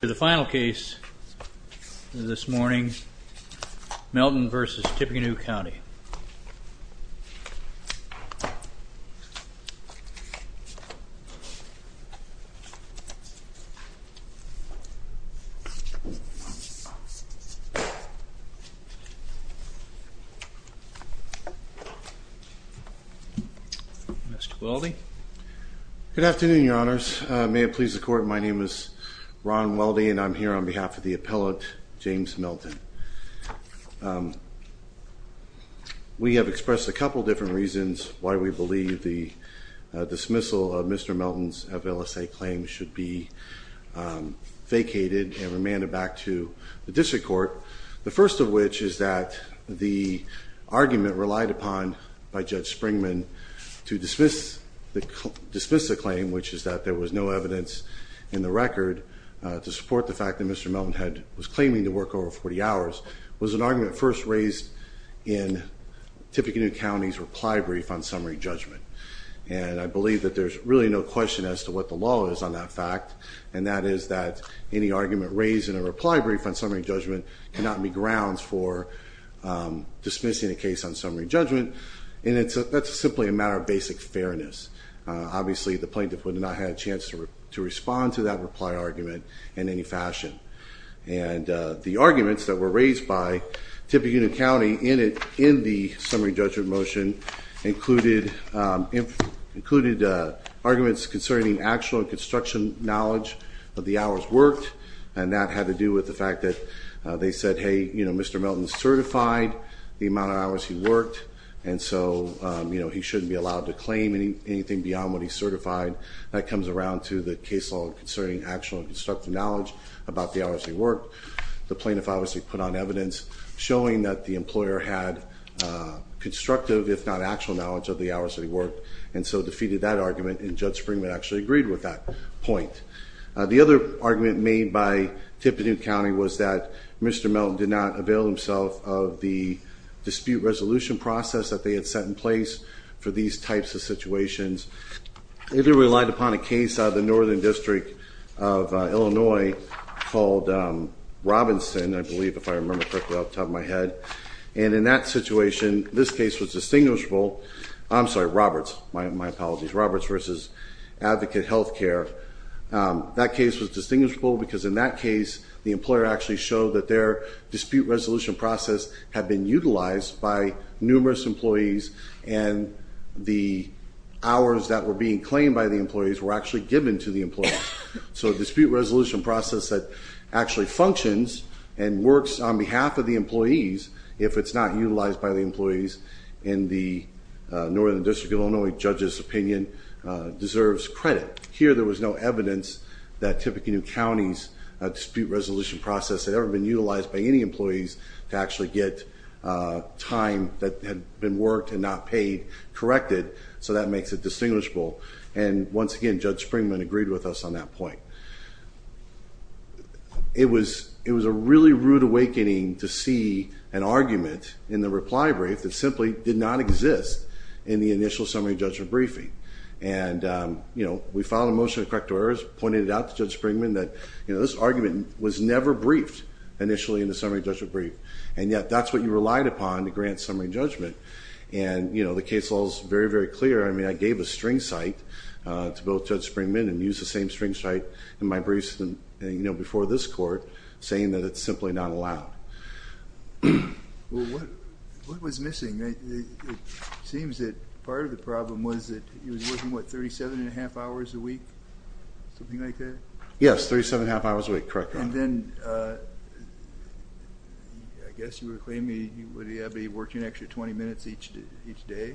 The final case this morning, Melton v. Tippecanoe County. Mr. Weldy. Good afternoon, your honors. May it please the court, my name is Ron Weldy and I'm here on behalf of the appellate, James Melton. We have expressed a couple different reasons why we believe the dismissal of Mr. Melton's of LSA claims should be vacated and remanded back to the district court. The first of which is that the argument relied upon by Judge Springman to dismiss the claim, which is that there was no evidence in the record to support the fact that Mr. Melton was claiming to work over 40 hours, was an argument first raised in Tippecanoe County's reply brief on summary judgment. And I believe that there's really no question as to what the law is on that fact, and that is that any argument raised in a reply brief on summary judgment cannot be grounds for dismissing a case on summary judgment. And that's simply a matter of basic fairness. Obviously, the plaintiff would not have had a chance to respond to that reply argument in any fashion. And the arguments that were raised by Tippecanoe County in the summary judgment motion included arguments concerning actual construction knowledge of the hours worked, and that had to do with the fact that they said, hey, Mr. Melton certified the amount of hours he worked, and so he shouldn't be allowed to claim anything beyond what he certified. That comes around to the case law concerning actual constructive knowledge about the hours he worked. The plaintiff obviously put on evidence showing that the employer had constructive, if not actual, knowledge of the hours that he worked, and so defeated that argument. And Judge Springman actually agreed with that point. The other argument made by Tippecanoe County was that Mr. Melton did not avail himself of the dispute resolution process that they had set in place for these types of situations. They relied upon a case out of the Northern District of Illinois called Robinson, I believe, if I remember correctly off the top of my head. And in that situation, this case was distinguishable. I'm sorry, Roberts, my apologies, Roberts versus Advocate Healthcare. That case was distinguishable because in that case, the employer actually showed that their dispute resolution process had been utilized by numerous employees, and the hours that were being claimed by the employees were actually given to the employees. So a dispute resolution process that actually functions and works on behalf of the employees, if it's not utilized by the employees in the Northern District of Illinois judge's opinion, deserves credit. Here, there was no evidence that Tippecanoe County's dispute resolution process had ever been utilized by any employees to actually get time that had been worked and not paid corrected, so that makes it distinguishable. And once again, Judge Springman agreed with us on that point. It was a really rude awakening to see an argument in the reply brief that simply did not exist in the initial summary judgment briefing. And, you know, we filed a motion to correct errors, pointed it out to Judge Springman that, you know, this argument was never briefed initially in the summary judgment brief, and yet that's what you relied upon to grant summary judgment. And, you know, the case law is very, very clear. I mean, I gave a string cite to both Judge Springman and used the same string cite in my briefs, you know, before this court saying that it's simply not allowed. Well, what was missing? It seems that part of the problem was that he was working, what, 37 1⁄2 hours a week, something like that? Yes, 37 1⁄2 hours a week, correct, Your Honor. And then I guess you were claiming would he have to be working an extra 20 minutes each day?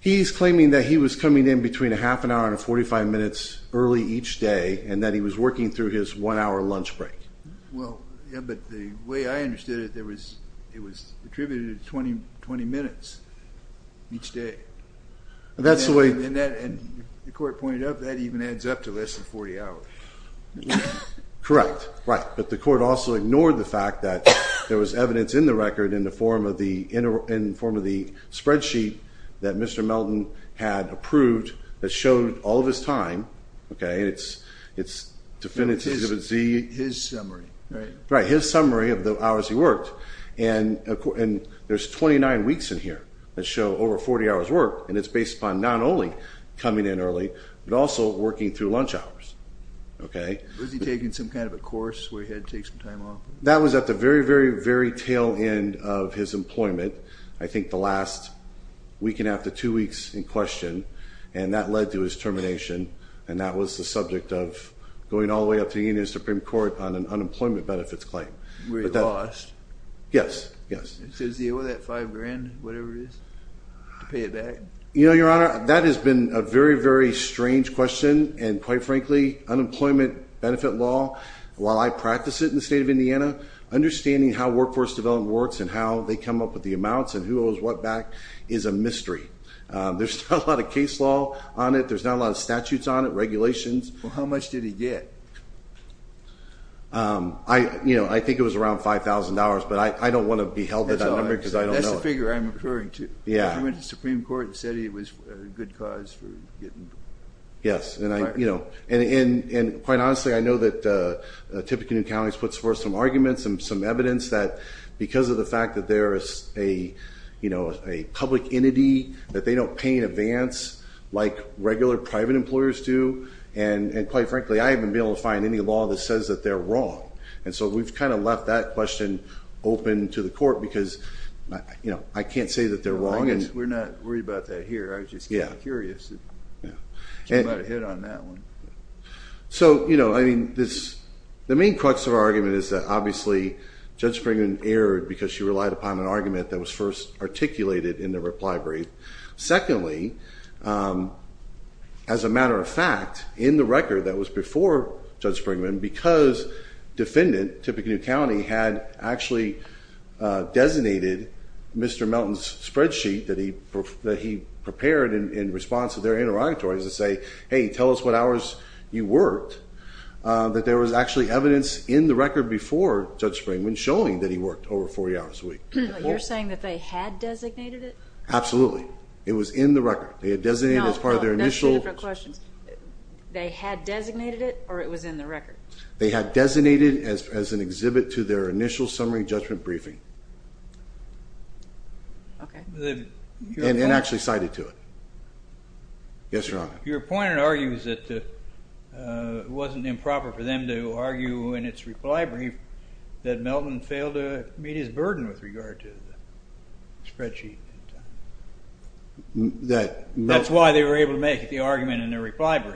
He's claiming that he was coming in between a half an hour and 45 minutes early each day and that he was working through his one-hour lunch break. Well, yeah, but the way I understood it, it was attributed to 20 minutes each day. And that's the way... And the court pointed out that even adds up to less than 40 hours. Correct, right. But the court also ignored the fact that there was evidence in the record in the form of the spreadsheet that Mr. Melton had approved that showed all of his time, okay, and it's definitive. His summary, right? Right, his summary of the hours he worked. And there's 29 weeks in here that show over 40 hours' work, and it's based upon not only coming in early, but also working through lunch hours, okay? Was he taking some kind of a course where he had to take some time off? That was at the very, very, very tail end of his employment, I think the last weekend after two weeks in question, and that led to his termination, and that was the subject of going all the way up to the Indian Supreme Court on an unemployment benefits claim. Where he lost? Yes, yes. So is he owed that $5,000, whatever it is, to pay it back? You know, Your Honor, that has been a very, very strange question, and quite frankly, unemployment benefit law, while I practice it in the state of Indiana, understanding how workforce development works and how they come up with the amounts and who owes what back is a mystery. There's not a lot of case law on it. There's not a lot of statutes on it, regulations. Well, how much did he get? I think it was around $5,000, but I don't want to be held to that number because I don't know. That's the figure I'm referring to. He went to the Supreme Court and said he was a good cause for getting... Yes, and quite honestly, I know that Tippecanoe County has put forth some arguments and some evidence that because of the fact that they're a public entity, that they don't pay in advance like regular private employers do, and quite frankly, I haven't been able to find any law that says that they're wrong. And so we've kind of left that question open to the court because, you know, I can't say that they're wrong. We're not worried about that here. I was just curious. You might have hit on that one. So, you know, I mean, the main crux of our argument is that, obviously, Judge Springman erred because she relied upon an argument that was first articulated in the reply brief. Secondly, as a matter of fact, in the record that was before Judge Springman, because Defendant Tippecanoe County had actually designated Mr. Melton's spreadsheet that he prepared in response to their interrogatories to say, hey, tell us what hours you worked, that there was actually evidence in the record before Judge Springman showing that he worked over 40 hours a week. You're saying that they had designated it? Absolutely. It was in the record. They had designated it as part of their initial... No, that's two different questions. They had designated it or it was in the record? They had designated it as an exhibit to their initial summary judgment briefing. Okay. And actually cited to it. Yes, Your Honor. Your point argues that it wasn't improper for them to argue in its reply brief that Melton failed to meet his burden with regard to the spreadsheet. That's why they were able to make the argument in the reply brief.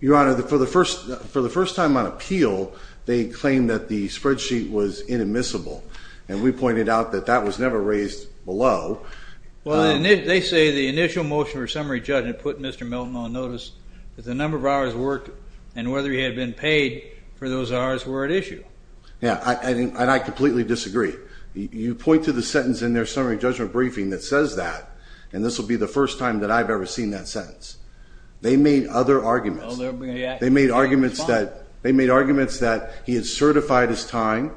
Your Honor, for the first time on appeal, they claimed that the spreadsheet was inadmissible, and we pointed out that that was never raised below. Well, they say the initial motion for summary judgment put Mr. Melton on notice that the number of hours worked and whether he had been paid for those hours were at issue. Yes, and I completely disagree. You point to the sentence in their summary judgment briefing that says that, and this will be the first time that I've ever seen that sentence. They made other arguments. They made arguments that he had certified his time,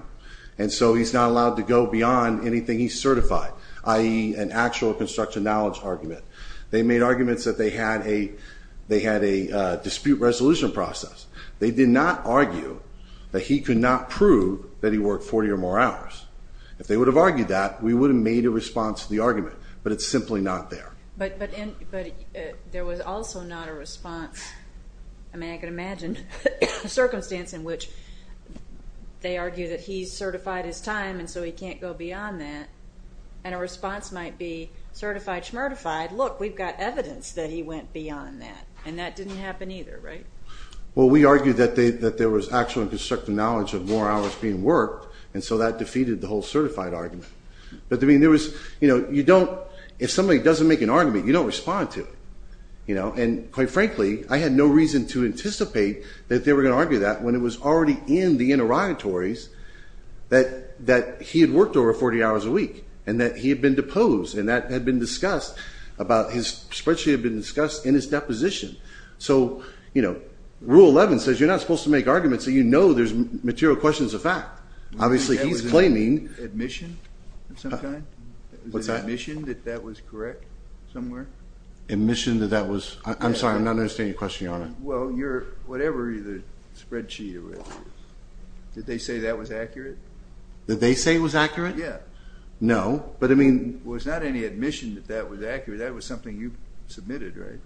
and so he's not allowed to go beyond anything he's certified, i.e., an actual construction knowledge argument. They made arguments that they had a dispute resolution process. They did not argue that he could not prove that he worked 40 or more hours. If they would have argued that, we would have made a response to the argument, but it's simply not there. But there was also not a response. I can imagine a circumstance in which they argue that he's certified his time and so he can't go beyond that, and a response might be certified, shmertified, look, we've got evidence that he went beyond that, and that didn't happen either, right? Well, we argued that there was actual and constructive knowledge of more hours being worked, and so that defeated the whole certified argument. But, I mean, there was, you know, you don't, if somebody doesn't make an argument, you don't respond to it. And, quite frankly, I had no reason to anticipate that they were going to argue that when it was already in the interrogatories that he had worked over 40 hours a week and that he had been deposed and that had been discussed about his spreadsheet had been discussed in his deposition. So, you know, Rule 11 says you're not supposed to make arguments that you know there's material questions of fact. Obviously, he's claiming... Was that admission of some kind? What's that? Was it admission that that was correct somewhere? Admission that that was... I'm sorry, I'm not understanding your question, Your Honor. Well, you're... Whatever the spreadsheet it was, did they say that was accurate? Did they say it was accurate? Yeah. No, but, I mean... It was not any admission that that was accurate. That was something you submitted, right?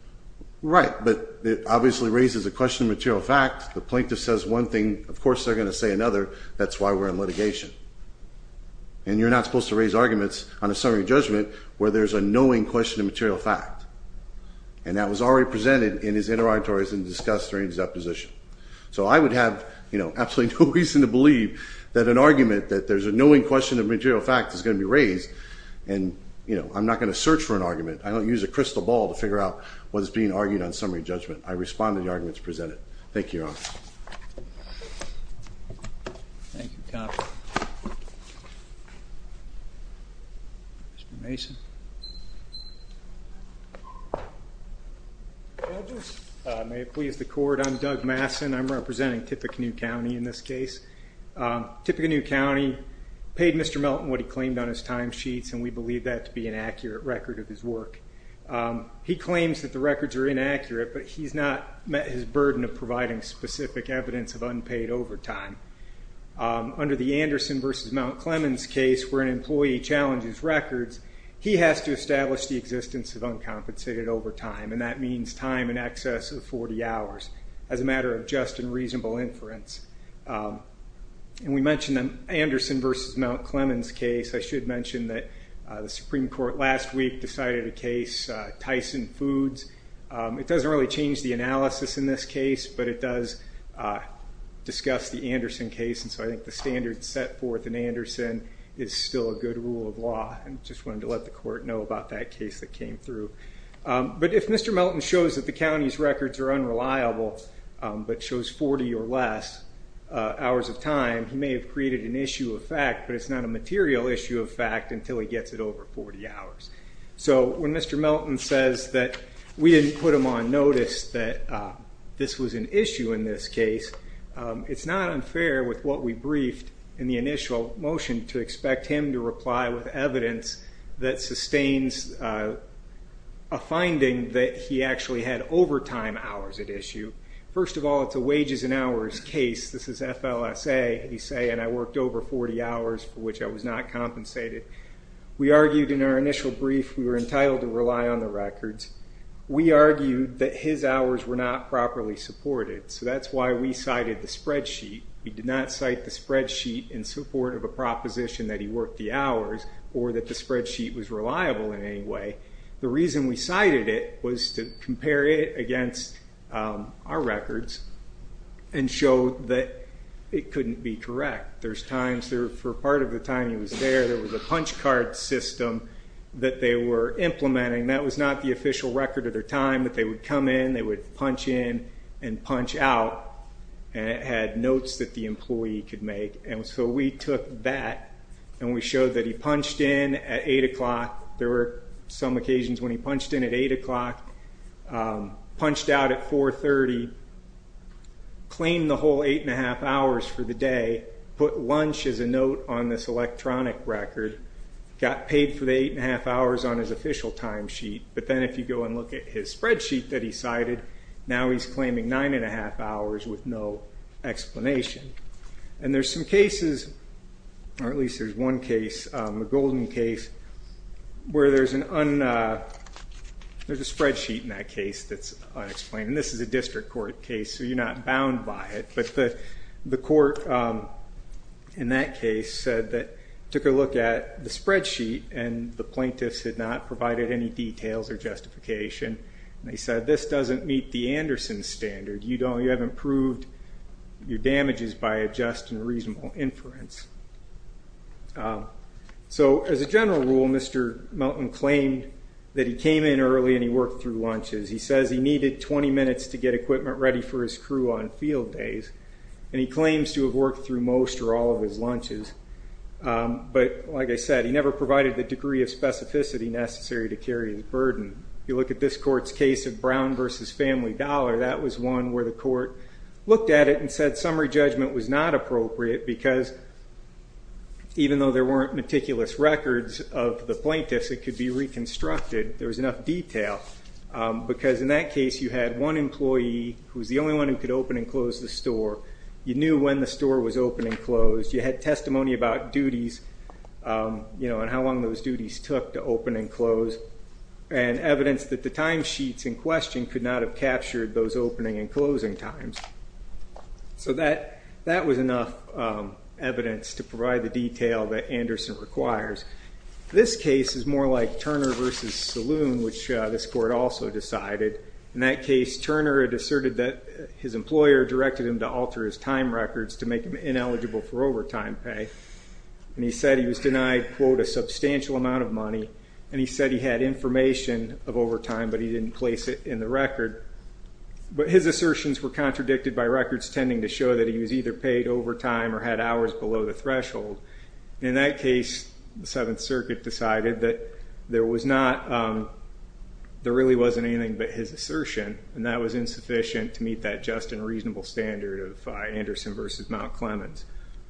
Right, but it obviously raises a question of material fact. The plaintiff says one thing, of course they're going to say another. That's why we're in litigation. And you're not supposed to raise arguments on a summary judgment where there's a knowing question of material fact. And that was already presented in his interrogatories and discussed during his deposition. So I would have, you know, absolutely no reason to believe that an argument that there's a knowing question of material fact is going to be raised, and, you know, I'm not going to search for an argument. I don't use a crystal ball to figure out what is being argued on summary judgment. I respond to the arguments presented. Thank you, Your Honor. Thank you, counsel. Mr. Mason. Judges, may it please the court, I'm Doug Masson. I'm representing Tippecanoe County in this case. Tippecanoe County paid Mr. Melton what he claimed on his timesheets, and we believe that to be an accurate record of his work. He claims that the records are inaccurate, but he's not met his burden of providing specific evidence of unpaid overtime. Under the Anderson v. Mount Clemens case, where an employee challenges records, he has to establish the existence of uncompensated overtime, and that means time in excess of 40 hours, as a matter of just and reasonable inference. And we mentioned the Anderson v. Mount Clemens case. I should mention that the Supreme Court last week decided a case, Tyson Foods. It doesn't really change the analysis in this case, but it does discuss the Anderson case, and so I think the standards set forth in Anderson is still a good rule of law. I just wanted to let the court know about that case that came through. But if Mr. Melton shows that the county's records are unreliable, but shows 40 or less hours of time, he may have created an issue of fact, but it's not a material issue of fact until he gets it over 40 hours. So when Mr. Melton says that we didn't put him on notice that this was an issue in this case, it's not unfair with what we briefed in the initial motion to expect him to reply with evidence that sustains a finding that he actually had overtime hours at issue. First of all, it's a wages and hours case. This is FLSA. He's saying I worked over 40 hours for which I was not compensated. We argued in our initial brief we were entitled to rely on the records. We argued that his hours were not properly supported, so that's why we cited the spreadsheet. We did not cite the spreadsheet in support of a proposition that he worked the hours or that the spreadsheet was reliable in any way. The reason we cited it was to compare it against our records and show that it couldn't be correct. For part of the time he was there, there was a punch card system that they were implementing. That was not the official record of their time, but they would come in, they would punch in and punch out, and it had notes that the employee could make. So we took that and we showed that he punched in at 8 o'clock. There were some occasions when he punched in at 8 o'clock, punched out at 4.30, claimed the whole 8.5 hours for the day, put lunch as a note on this electronic record, got paid for the 8.5 hours on his official timesheet, but then if you go and look at his spreadsheet that he cited, now he's claiming 9.5 hours with no explanation. There's some cases, or at least there's one case, the Golden case, where there's a spreadsheet in that case that's unexplained. This is a district court case, so you're not bound by it. But the court in that case took a look at the spreadsheet and the plaintiffs had not provided any details or justification. They said, this doesn't meet the Anderson standard. You have improved your damages by a just and reasonable inference. So as a general rule, Mr. Melton claimed that he came in early and he worked through lunches. He says he needed 20 minutes to get equipment ready for his crew on field days, and he claims to have worked through most or all of his lunches. But like I said, he never provided the degree of specificity necessary to carry his burden. If you look at this court's case of Brown v. Family Dollar, that was one where the court looked at it and said summary judgment was not appropriate because even though there weren't meticulous records of the plaintiffs, it could be reconstructed. It could be that there was enough detail because in that case you had one employee who was the only one who could open and close the store. You knew when the store was open and closed. You had testimony about duties and how long those duties took to open and close, and evidence that the timesheets in question could not have captured those opening and closing times. So that was enough evidence to provide the detail that Anderson requires. This case is more like Turner v. Saloon, which this court also decided. In that case, Turner had asserted that his employer directed him to alter his time records to make him ineligible for overtime pay. And he said he was denied, quote, a substantial amount of money, and he said he had information of overtime, but he didn't place it in the record. But his assertions were contradicted by records tending to show that he was either paid overtime or had hours below the threshold. In that case, the Seventh Circuit decided that there really wasn't anything but his assertion, and that was insufficient to meet that just and reasonable standard of Anderson v. Mount Clemens.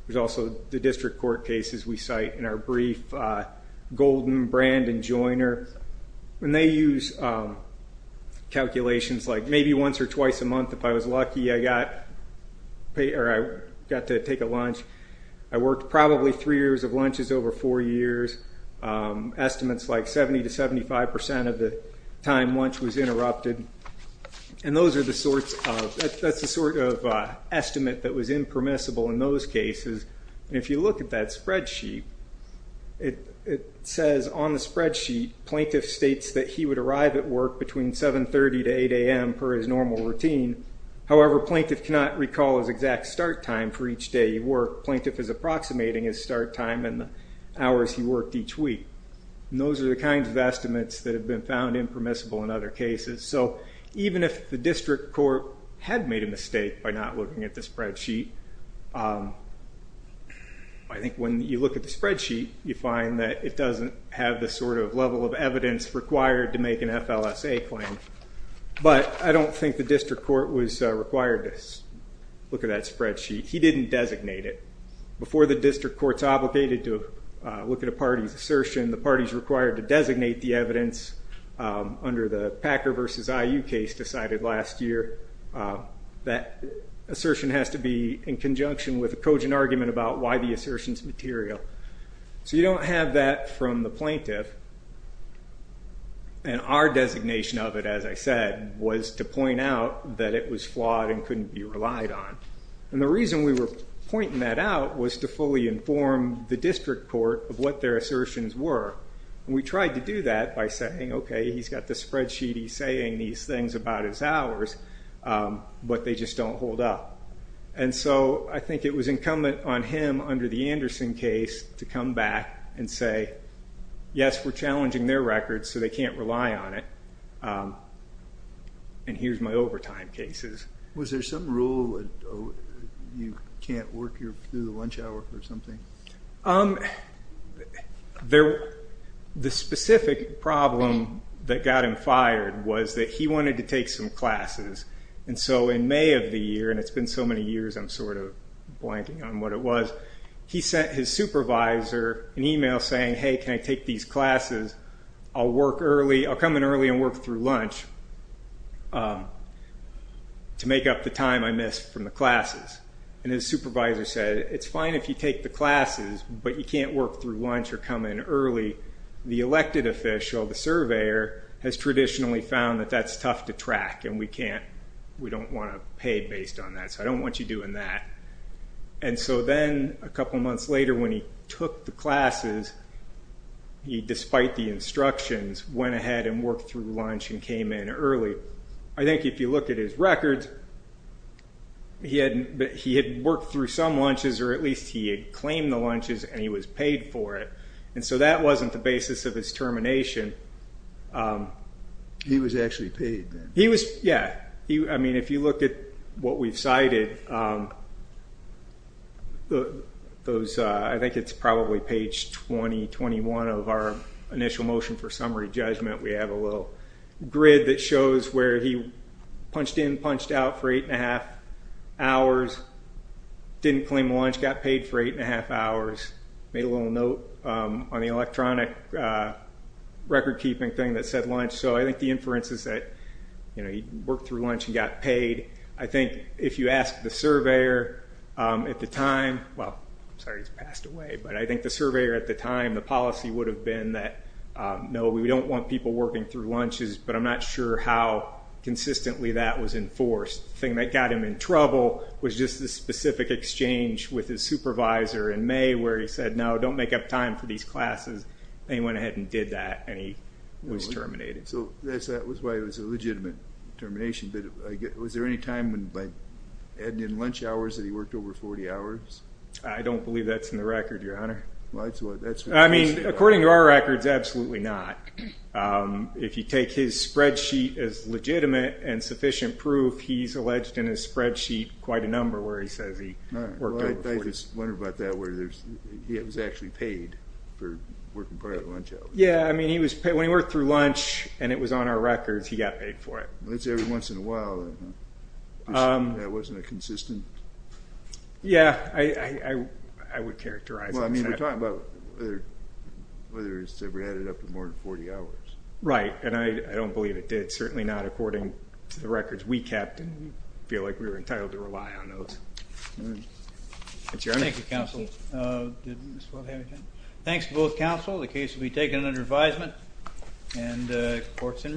There's also the district court cases we cite in our brief, Golden, Brand, and Joiner, and they use calculations like maybe once or twice a month if I was lucky I got to take a lunch, I worked probably three years of lunches over four years, estimates like 70% to 75% of the time lunch was interrupted. And that's the sort of estimate that was impermissible in those cases. And if you look at that spreadsheet, it says on the spreadsheet, plaintiff states that he would arrive at work between 7.30 to 8 a.m. per his normal routine. However, plaintiff cannot recall his exact start time for each day he worked. Plaintiff is approximating his start time and the hours he worked each week. Those are the kinds of estimates that have been found impermissible in other cases. So even if the district court had made a mistake by not looking at the spreadsheet, I think when you look at the spreadsheet, you find that it doesn't have the sort of level of evidence required to make an FLSA claim. But I don't think the district court was required to look at that spreadsheet. He didn't designate it. Before the district court's obligated to look at a party's assertion, the party's required to designate the evidence under the Packer v. IU case decided last year. That assertion has to be in conjunction with a cogent argument about why the assertion's material. So you don't have that from the plaintiff. And our designation of it, as I said, was to point out that it was flawed and couldn't be relied on. And the reason we were pointing that out was to fully inform the district court of what their assertions were. And we tried to do that by saying, okay, he's got this spreadsheet. He's saying these things about his hours, but they just don't hold up. And so I think it was incumbent on him under the Anderson case to come back and say, yes, we're challenging their records, so they can't rely on it, and here's my overtime cases. Was there some rule that you can't work through the lunch hour or something? The specific problem that got him fired was that he wanted to take some classes. And so in May of the year, and it's been so many years I'm sort of blanking on what it was, he sent his supervisor an email saying, hey, can I take these classes? I'll come in early and work through lunch to make up the time I missed from the classes. And his supervisor said, it's fine if you take the classes, but you can't work through lunch or come in early. The elected official, the surveyor, has traditionally found that that's tough to track, and we don't want to pay based on that, so I don't want you doing that. And so then a couple months later when he took the classes, he, despite the instructions, went ahead and worked through lunch and came in early. I think if you look at his records, he had worked through some lunches, or at least he had claimed the lunches, and he was paid for it. And so that wasn't the basis of his termination. He was actually paid then? Yeah. I mean, if you look at what we've cited, I think it's probably page 20, 21 of our initial motion for summary judgment, we have a little grid that shows where he punched in, punched out for eight and a half hours, didn't claim lunch, got paid for eight and a half hours, made a little note on the electronic record-keeping thing that said lunch. So I think the inference is that he worked through lunch and got paid. I think if you ask the surveyor at the time, well, I'm sorry he's passed away, but I think the surveyor at the time, the policy would have been that, no, we don't want people working through lunches, but I'm not sure how consistently that was enforced. The thing that got him in trouble was just the specific exchange with his supervisor in May, where he said, no, don't make up time for these classes. And he went ahead and did that, and he was terminated. So that's why it was a legitimate termination. But was there any time by adding in lunch hours that he worked over 40 hours? I don't believe that's in the record, Your Honor. Well, that's what it says. I mean, according to our records, absolutely not. If you take his spreadsheet as legitimate and sufficient proof, he's alleged in his spreadsheet quite a number where he says he worked over 40. I just wonder about that, where he was actually paid for working part of the lunch hours. Yeah, I mean, when he worked through lunch and it was on our records, he got paid for it. Well, that's every once in a while. That wasn't a consistent? Yeah, I would characterize it as that. I mean, we're talking about whether it's ever added up to more than 40 hours. Right, and I don't believe it did. Certainly not according to the records we kept. I feel like we were entitled to rely on those. Thank you, counsel. Thanks to both counsel. The case will be taken under advisement, and the court's in recess.